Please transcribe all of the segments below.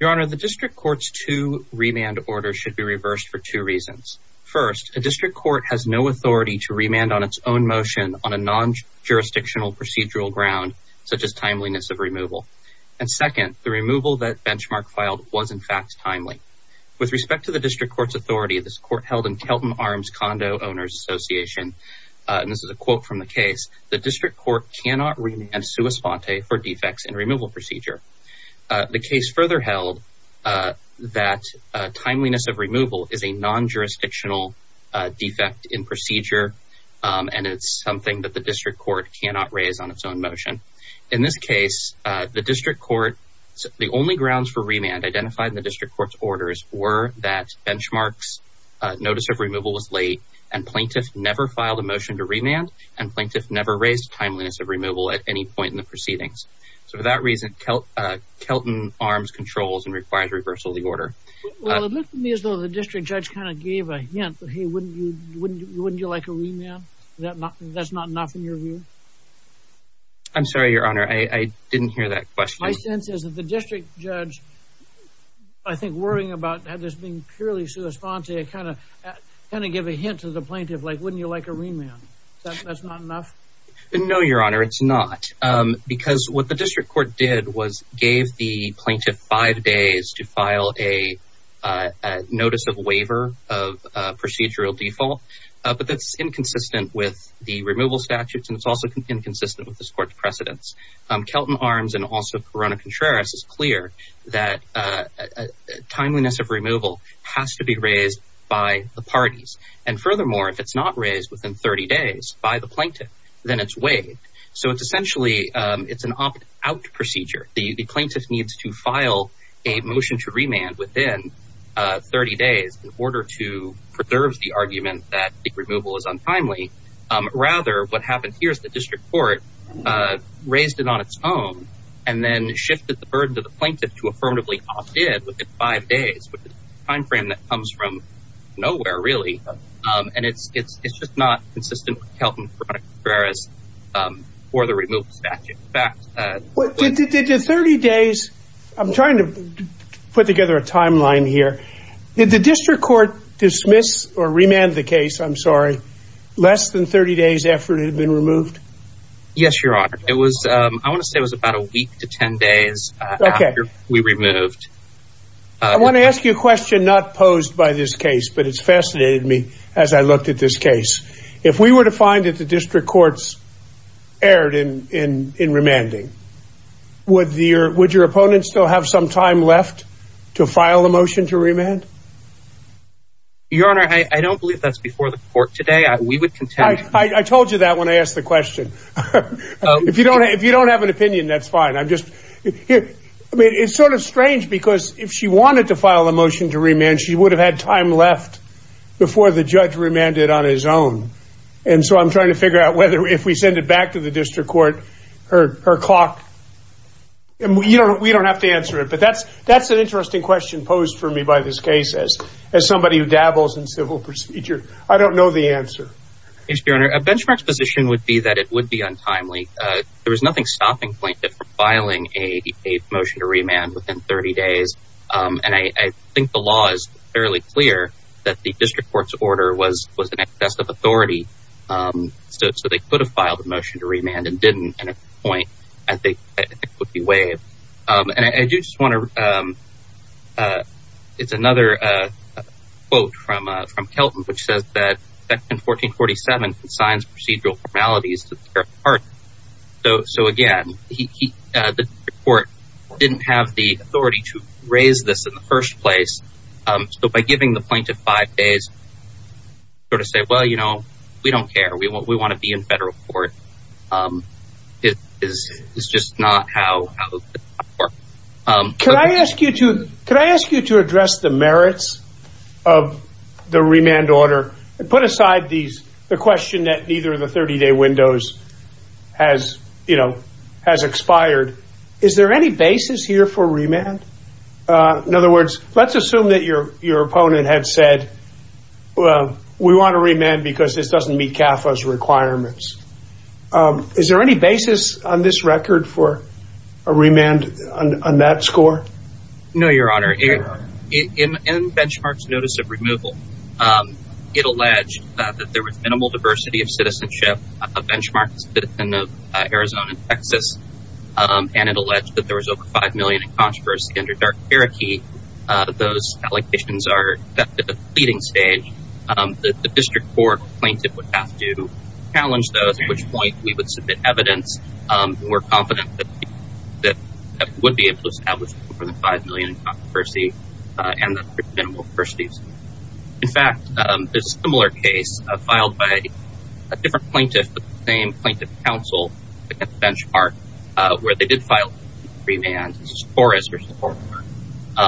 Your Honor, the District Court's two remand orders should be reversed for two reasons. First, a District Court has no authority to remand on its own motion on a non-jurisdictional procedural ground, such as timeliness of removal. And second, the removal that Benchmark filed was in fact timely. With respect to the District Court's authority, this court held in Kelton Arms Condo Owners Association, and this is a quote from the case, the District Court cannot remand defects in removal procedure. The case further held that timeliness of removal is a non-jurisdictional defect in procedure, and it's something that the District Court cannot raise on its own motion. In this case, the only grounds for remand identified in the District Court's orders were that Benchmark's notice of removal was late, and Plaintiff never filed a motion to remand, and Plaintiff never raised timeliness of removal at any point in the proceedings. So for that reason, Kelton Arms controls and requires reversal of the order. Well, it looked to me as though the District Judge kind of gave a hint, but hey, wouldn't you like a remand? That's not enough in your view? I'm sorry, Your Honor, I didn't hear that question. My sense is that the District Judge, I think, worrying about this being purely a kind of give a hint to the Plaintiff, like, wouldn't you like a remand? That's not enough? No, Your Honor, it's not, because what the District Court did was gave the Plaintiff five days to file a notice of waiver of procedural default, but that's inconsistent with the removal statutes, and it's also inconsistent with this Court's precedence. Kelton Arms and also Corona is clear that timeliness of removal has to be raised by the parties, and furthermore, if it's not raised within 30 days by the Plaintiff, then it's waived. So it's essentially, it's an opt-out procedure. The Plaintiff needs to file a motion to remand within 30 days in order to preserve the argument that the removal is untimely. Rather, what happened here is the District Court raised it on its own and then shifted the burden to the Plaintiff to affirmatively opt-in within five days, which is a time frame that comes from nowhere, really, and it's just not consistent with Kelton, Corona, and Corona for the removal statute. In fact... Did the 30 days... I'm trying to put together a timeline here. Did the District Court dismiss or remand the case, I'm sorry, less than 30 days after it had been removed? Yes, Your Honor. I want to say it was about a week to 10 days after we removed. I want to ask you a question not posed by this case, but it's fascinated me as I looked at this case. If we were to find that the District Courts erred in remanding, would your opponent still have some time left to file a motion to remand? Your Honor, I don't believe that's before the court today. I told you that when I asked the question. If you don't have an opinion, that's fine. I'm just... I mean, it's sort of strange because if she wanted to file a motion to remand, she would have had time left before the judge remanded on his own. And so I'm trying to figure out whether if we send it back to the District Court, her clock... And we don't have to answer it. But that's an interesting question posed for me by this case as somebody who dabbles in civil procedure. I don't know the answer. Yes, Your Honor. A benchmark position would be that it would be untimely. There was nothing stopping plaintiff from filing a motion to remand within 30 days. And I think the law is fairly clear that the District Court's order was an excess of authority. So they could have filed a motion to remand and didn't. And at this point, I think it could be waived. And I do just want to... It's another quote from Kelton, which says that Section 1447 consigns procedural formalities to their part. So again, the District Court didn't have the authority to raise this in the first place. So by giving the plaintiff five days, you sort of say, well, you know, we don't care. We want to be in federal court. It is just not how... Could I ask you to address the merits of the remand order and put aside the question that neither of the 30-day windows has expired? Is there any basis here for remand? In other words, let's assume that your opponent had said, well, we want to remand because this doesn't meet CAFA's requirements. Is there any basis on this record for a remand on that score? No, Your Honor. In Benchmark's notice of removal, it alleged that there was minimal diversity of citizenship. Benchmark is a citizen of Arizona and Texas. And it alleged that there those allegations are at the leading stage. The District Court plaintiff would have to challenge those, at which point we would submit evidence. We're confident that that would be able to establish more than 5 million in controversy and that there's minimal diversity. In fact, there's a similar case filed by a different plaintiff, the same plaintiff counsel at Benchmark, where they did file a remand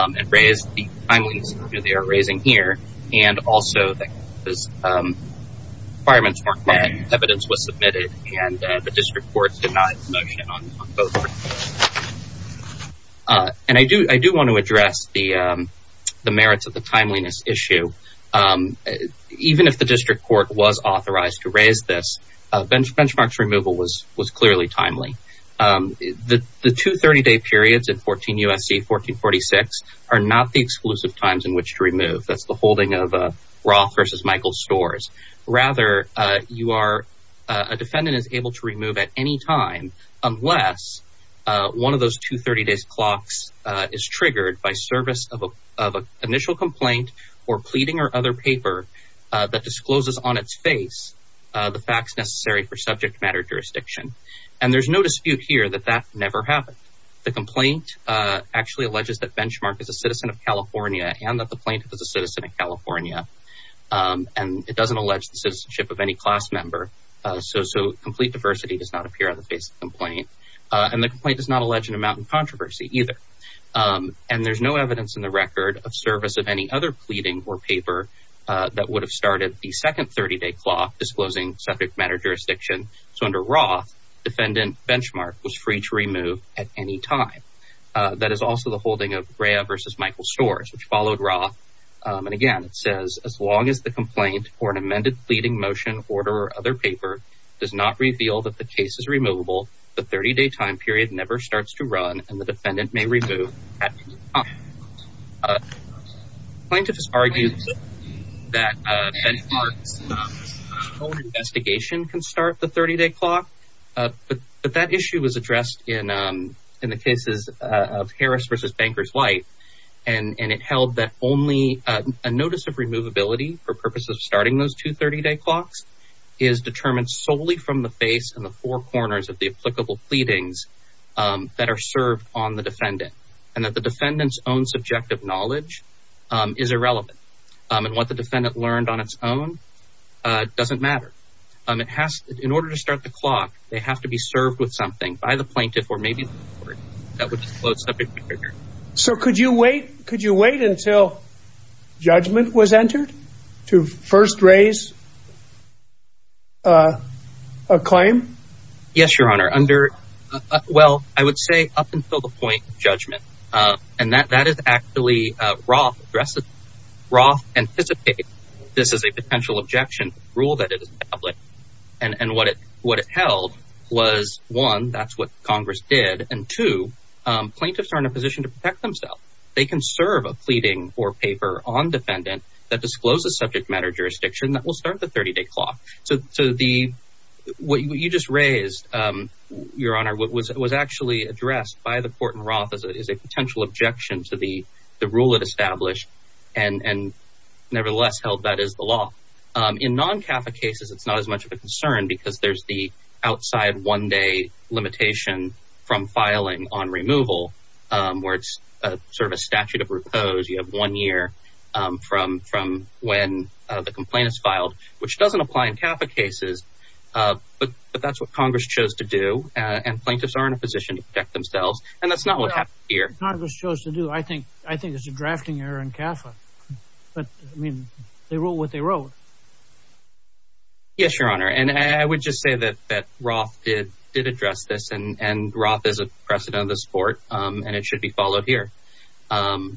and raised the timeliness that they are raising here. And also the requirements were met, evidence was submitted, and the District Court did not motion on both. And I do want to address the merits of the timeliness issue. Even if the District Court was authorized to raise this, Benchmark's removal was clearly timely. The two 30-day periods in 14 U.S.C. 1446 are not the exclusive times in which to remove. That's the holding of Roth versus Michaels stores. Rather, a defendant is able to remove at any time unless one of those two 30-day clocks is triggered by service of an initial complaint or pleading or other paper that discloses on its face the facts necessary for subject matter jurisdiction. And there's no dispute here that that never happened. The complaint actually alleges that Benchmark is a citizen of California and that the plaintiff is a citizen of California. And it doesn't allege the citizenship of any class member. So complete diversity does not appear on the face of the complaint. And the complaint does not allege an amount of controversy either. And there's no evidence in the record of service of any other pleading or paper that would have started the second 30-day clock disclosing subject matter jurisdiction. So under Roth, defendant Benchmark was free to remove at any time. That is also the holding of Rea versus Michaels stores, which followed Roth. And again, it says, as long as the complaint or an amended pleading motion order or other paper does not reveal that the case is removable, the 30-day time period never starts to run and the defendant may remove at any time. Plaintiff has argued that Benchmark's investigation can start the 30-day clock. But that issue was addressed in the cases of Harris versus Bankers White. And it held that only a notice of removability for purposes of starting those two 30-day clocks is determined solely from the face and the four corners of the applicable pleadings that are served on the defendant. And that the defendant's own subjective knowledge is irrelevant. And what the defendant learned on its own doesn't matter. In order to start the clock, they have to be served with something by the plaintiff or maybe that would disclose So could you wait until judgment was entered to first raise a claim? Yes, Your Honor. Well, I would say up until the point of judgment. And that is actually Roth anticipated this is a potential objection to the rule that it is public. And what it held was one, that's what Congress did. And two, plaintiffs are in a position to protect themselves. They can serve a pleading or paper on defendant that discloses subject matter jurisdiction that will start the 30-day clock. So what you just raised, Your Honor, was actually addressed by the court in Roth as a potential objection to the rule it established and nevertheless held that is law. In non-CAFA cases, it's not as much of a concern because there's the outside one-day limitation from filing on removal where it's sort of a statute of repose. You have one year from when the complaint is filed, which doesn't apply in CAFA cases. But that's what Congress chose to do. And plaintiffs are in a position to protect themselves. And that's not what happened Congress chose to do. I think it's a drafting error in CAFA. But I mean, they wrote what they wrote. Yes, Your Honor. And I would just say that Roth did address this and Roth is a precedent of the sport and it should be followed here. So,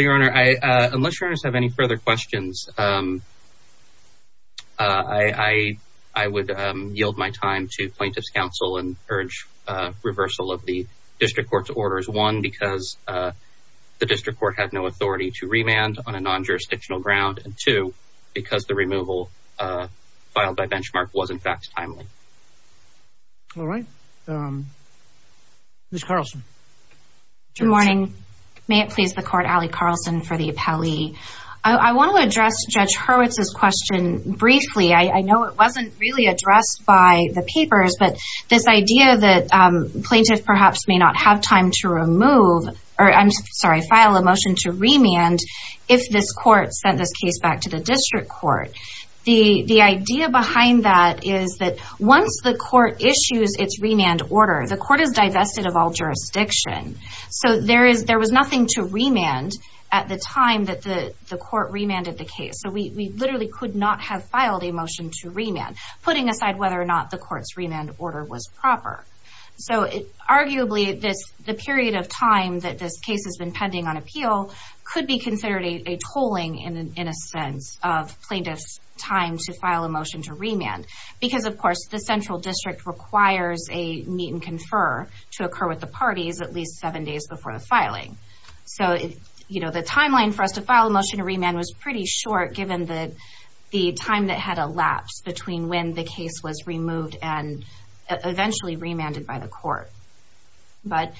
Your Honor, unless you have any further questions, I would yield my time to plaintiff's counsel and urge reversal of the district court's orders. One, because the district court had no authority to remand on a non-jurisdictional ground. And two, because the removal filed by benchmark was, in fact, timely. All right. Ms. Carlson. Good morning. May it please the court, Allie Carlson for the appellee. I want to address Judge Hurwitz's question briefly. I know it wasn't really addressed by the papers, but this idea that plaintiff perhaps may not have time to remove, or I'm sorry, file a motion to remand if this court sent this case back to the district court. The idea behind that is that once the court issues its remand order, the court is divested of all jurisdiction. So, there was nothing to remand at the time that the court remanded the case. So, we literally could not have filed a motion to remand, putting aside whether or not the court's remand order was proper. So, arguably, the period of time that this case has been pending on appeal could be considered a tolling in a sense of the central district requires a meet and confer to occur with the parties at least seven days before the filing. So, you know, the timeline for us to file a motion to remand was pretty short, given the time that had elapsed between when the case was removed and eventually remanded by the court. But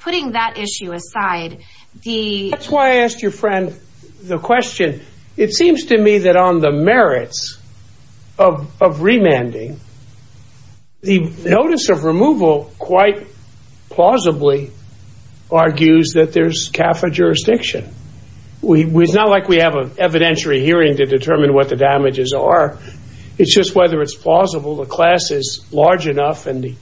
putting that issue aside, that's why I asked your friend the question. It seems to me that on the merits of remanding, the notice of removal quite plausibly argues that there's CAFA jurisdiction. It's not like we have an evidentiary hearing to determine what the damages are. It's just whether it's plausible the class is large enough and the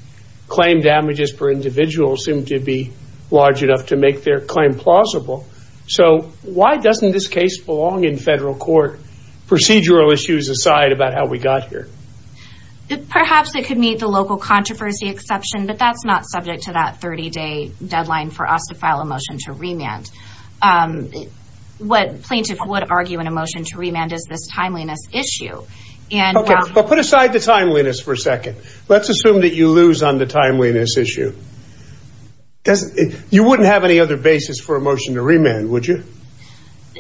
claim damages per individual seem to be large enough to make their claim plausible. So, why doesn't this case belong in federal court, procedural issues aside about how we got here? Perhaps it could meet the local controversy exception, but that's not subject to that 30-day deadline for us to file a motion to remand. What plaintiffs would argue in a motion to remand is this timeliness issue. Put aside the timeliness for a second. Let's assume that you lose on the timeliness issue. You wouldn't have any other basis for a motion to remand, would you?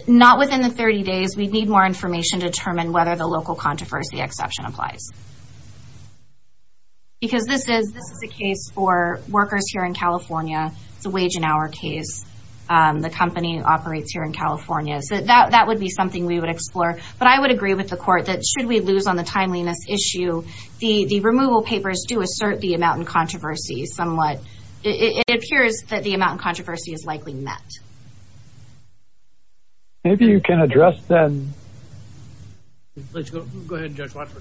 Not within the 30 days. We'd need more information to determine whether the local controversy exception applies. Because this is a case for workers here in California. It's a wage and hour case. The company operates here in California. So, that would be something we would explore. But I would agree with the court that should we lose on the timeliness issue, the removal papers do assert the amount in controversy somewhat. It appears that the amount in controversy is met. Maybe you can address that. Go ahead, Judge Fletcher.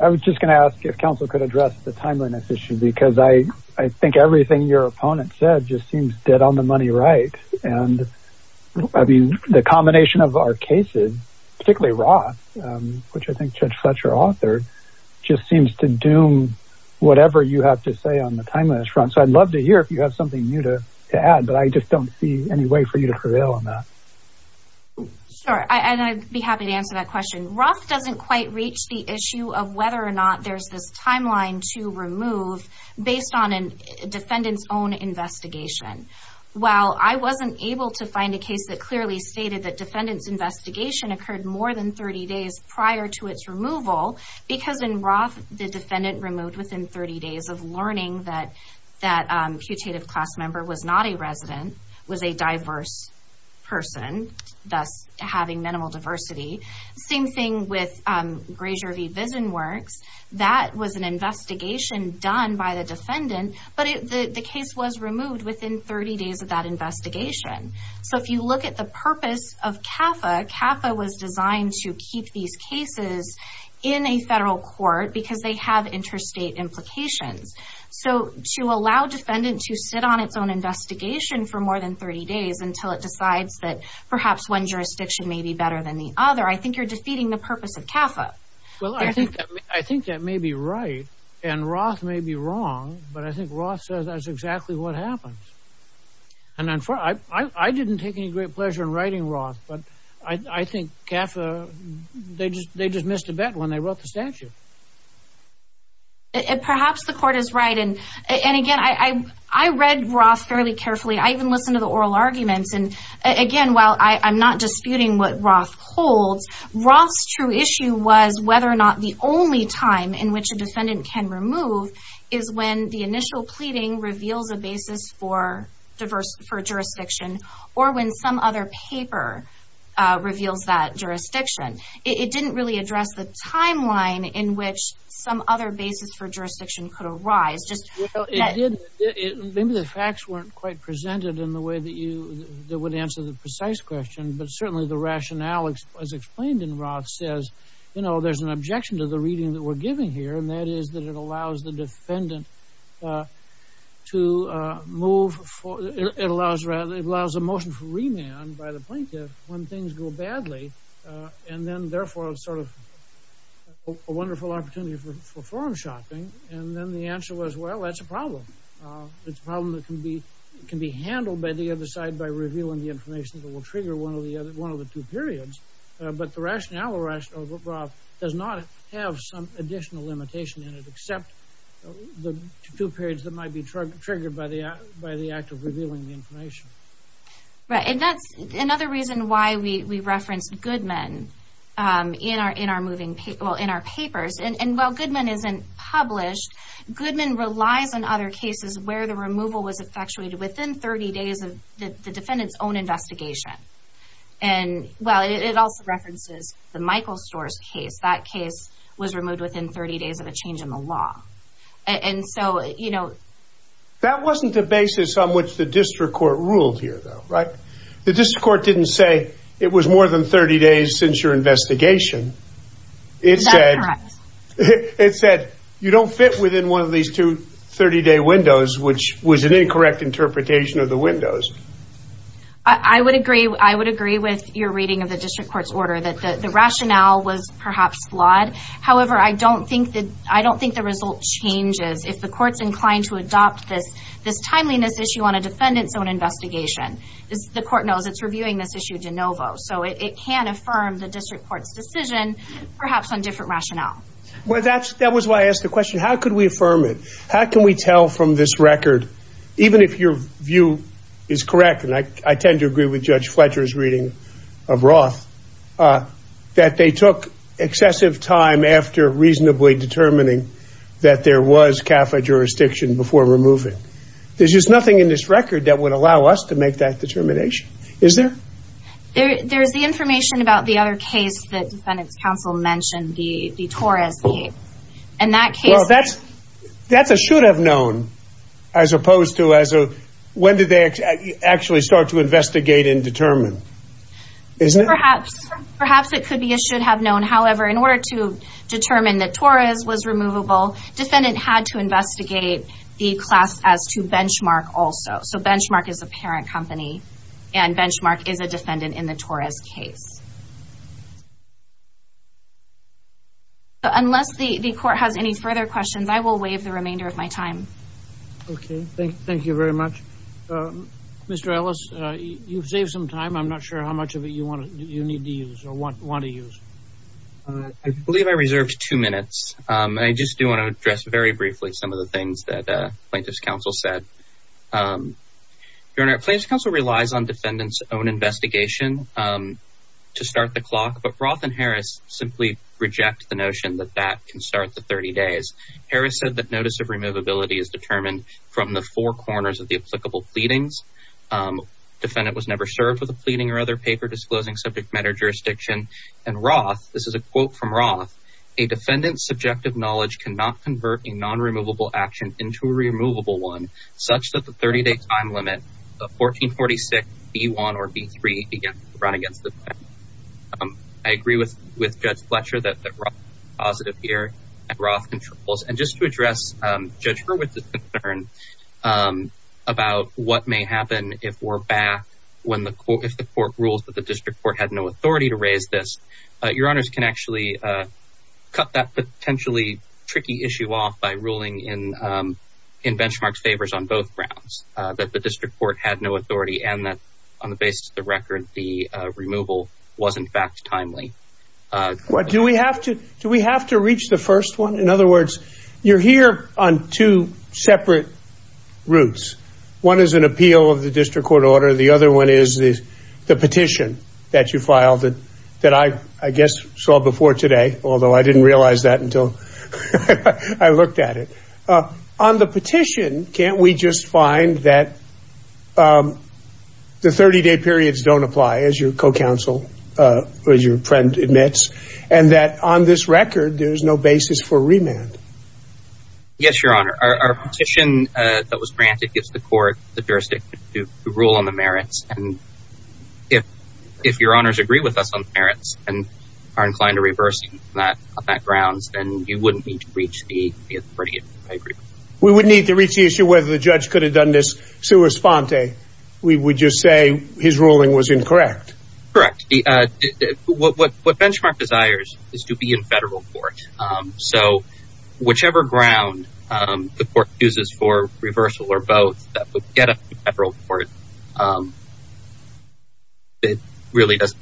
I was just going to ask if counsel could address the timeliness issue. Because I think everything your opponent said just seems dead on the money right. The combination of our cases, particularly Roth, which I think Judge Fletcher authored, just seems to doom whatever you have to say on the timeliness front. So, I'd love to hear if you have something new to add. But I just don't see any way for you to prevail on that. Sure. And I'd be happy to answer that question. Roth doesn't quite reach the issue of whether or not there's this timeline to remove based on a defendant's own investigation. While I wasn't able to find a case that clearly stated that defendant's investigation occurred more than 30 days prior to its removal. Because in Roth, the defendant removed within 30 days of learning that that putative class member was not a resident, was a diverse person, thus having minimal diversity. Same thing with Grazier v. VisionWorks. That was an investigation done by the defendant. But the case was removed within 30 days of that investigation. So, if you look at the purpose of CAFA, CAFA was designed to keep these cases in a federal court because they have interstate implications. So, to allow defendant to sit on its own investigation for more than 30 days until it decides that perhaps one jurisdiction may be better than the other, I think you're defeating the purpose of CAFA. Well, I think that may be right. And Roth may be wrong. But I think Roth says that's exactly what happens. And I didn't take any great pleasure in writing Roth. But I think CAFA, they just missed a bet when they wrote the statute. Perhaps the court is right. And again, I read Roth fairly carefully. I even listened to the oral arguments. And again, while I'm not disputing what Roth holds, Roth's true issue was whether or not the only time in which a defendant can remove is when the initial pleading reveals a basis for jurisdiction or when some other paper reveals that jurisdiction. It didn't really address the timeline in which some other basis for jurisdiction could arise. Maybe the facts weren't quite presented in the way that would answer the precise question. But certainly the rationale, as explained in Roth, says, you know, there's an objection to the defendant to move. It allows a motion for remand by the plaintiff when things go badly. And then therefore, sort of a wonderful opportunity for forum shopping. And then the answer was, well, that's a problem. It's a problem that can be handled by the other side by revealing the information that will trigger one of the two periods. But the rationale of Roth does not have some additional limitation in it, except the two periods that might be triggered by the act of revealing the information. Right. And that's another reason why we referenced Goodman in our papers. And while Goodman isn't published, Goodman relies on other cases where the removal was effectuated within 30 days of the defendant's own investigation. And well, it also references the Michael Storrs case. That case was removed within 30 days of a change in the law. And so, you know, that wasn't the basis on which the district court ruled here, though, right? The district court didn't say it was more than 30 days since your investigation. It said, it said you don't fit within one of these two 30 day windows, which was an incorrect interpretation of the windows. I would agree. I would agree with your reading of the district court's order that the rationale was perhaps flawed. However, I don't think that I don't think the result changes if the court's inclined to adopt this this timeliness issue on a defendant's own investigation. The court knows it's reviewing this issue de novo, so it can affirm the district court's decision, perhaps on different rationale. Well, that's that was why I asked the question, how could we affirm it? How can we tell from this record, even if your view is correct? And I tend to agree with Judge Fletcher's reading of Roth, that they took excessive time after reasonably determining that there was CAFA jurisdiction before removing. There's just nothing in this record that would allow us to make that determination, is there? There's the information about the other case that defendants counsel mentioned, the Torres case. Well, that's should have known, as opposed to as a, when did they actually start to investigate and determine, isn't it? Perhaps, perhaps it could be a should have known. However, in order to determine that Torres was removable, defendant had to investigate the class as to benchmark also. So benchmark is a parent company, and benchmark is a defendant in the Torres case. Unless the court has any further questions, I will waive the remainder of my time. Okay, thank you very much. Mr. Ellis, you've saved some time. I'm not sure how much of it you want to, you need to use or want to use. I believe I reserved two minutes. I just do want to address very briefly some of the things that plaintiff's counsel said. Your Honor, plaintiff's counsel relies on defendants own investigation to start the clock, but Roth and Harris simply reject the notion that that can start the 30 days. Harris said that notice of removability is determined from the four corners of the applicable pleadings. Defendant was never served with a pleading or other paper disclosing subject matter jurisdiction. And Roth, this is a quote from Roth, a defendant's subjective knowledge cannot convert a non-removable action into a removable one, such that the 30 day time limit of 1446 B1 or B3 run against the defendant. I agree with Judge Fletcher that Roth is positive here and Roth controls. And just to address Judge Hurwitz's concern about what may happen if we're back, if the court rules that the district court had no authority to raise this, your honors can actually cut that potentially tricky issue off by ruling in benchmark favors on both grounds, that the district court had no authority and that on the basis of the record, the removal was in fact timely. Do we have to, do we have to reach the first one? In other words, you're here on two separate routes. One is an appeal of the district court order. The other one is the petition that you filed that I guess saw before today, although I didn't realize that until I looked at it. On the petition, can't we just find that the 30 day periods don't apply as your co-counsel, as your friend admits, and that on this record, there's no basis for remand? Yes, your honor. Our petition that was granted gives the court the jurisdiction to rule on the merits. And if your honors agree with us on the merits and are inclined to reverse that on that you wouldn't need to reach the eighth period. I agree. We wouldn't need to reach the issue whether the judge could have done this sua sponte. We would just say his ruling was incorrect. Correct. What benchmark desires is to be in federal court. So whichever ground the court chooses for reversal or both, that would get up to federal court. It really doesn't.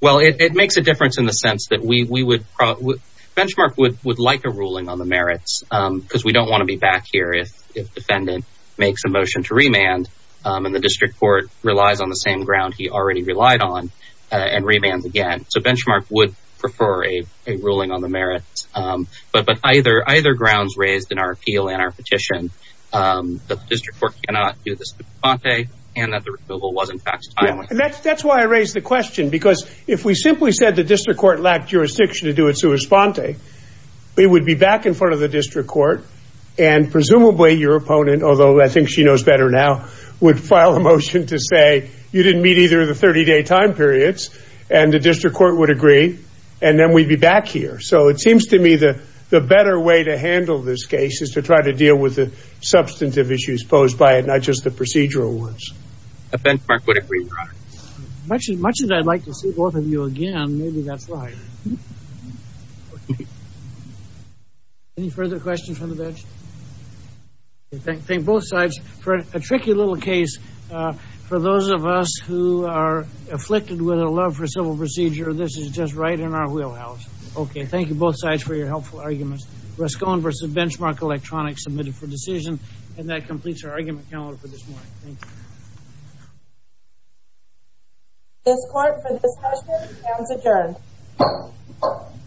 Well, it makes a difference in the sense that we would probably, benchmark would like a ruling on the merits because we don't want to be back here if defendant makes a motion to remand and the district court relies on the same ground he already relied on and remands again. So benchmark would prefer a ruling on the merits. But either grounds raised in our appeal and our petition, that the district court cannot do the sua sponte and that the removal wasn't faxed timely. That's why I raised the question because if we simply said the district court lacked jurisdiction to do a sua sponte, we would be back in front of the district court and presumably your opponent, although I think she knows better now, would file a motion to say you didn't meet either of the 30 day time periods and the district court would agree and then we'd be back here. So it seems to me the better way to handle this case is to try to deal with the substantive issues posed by it, not just the procedural ones. Much as I'd like to see both of you again, maybe that's right. Any further questions from the bench? I think both sides for a tricky little case. For those of us who are afflicted with a love for civil procedure, this is just right in our wheelhouse. Okay, thank you both sides for your helpful arguments. Rescon versus Benchmark Electronics submitted for decision and that completes our argument calendar for this morning. This court for this question is adjourned.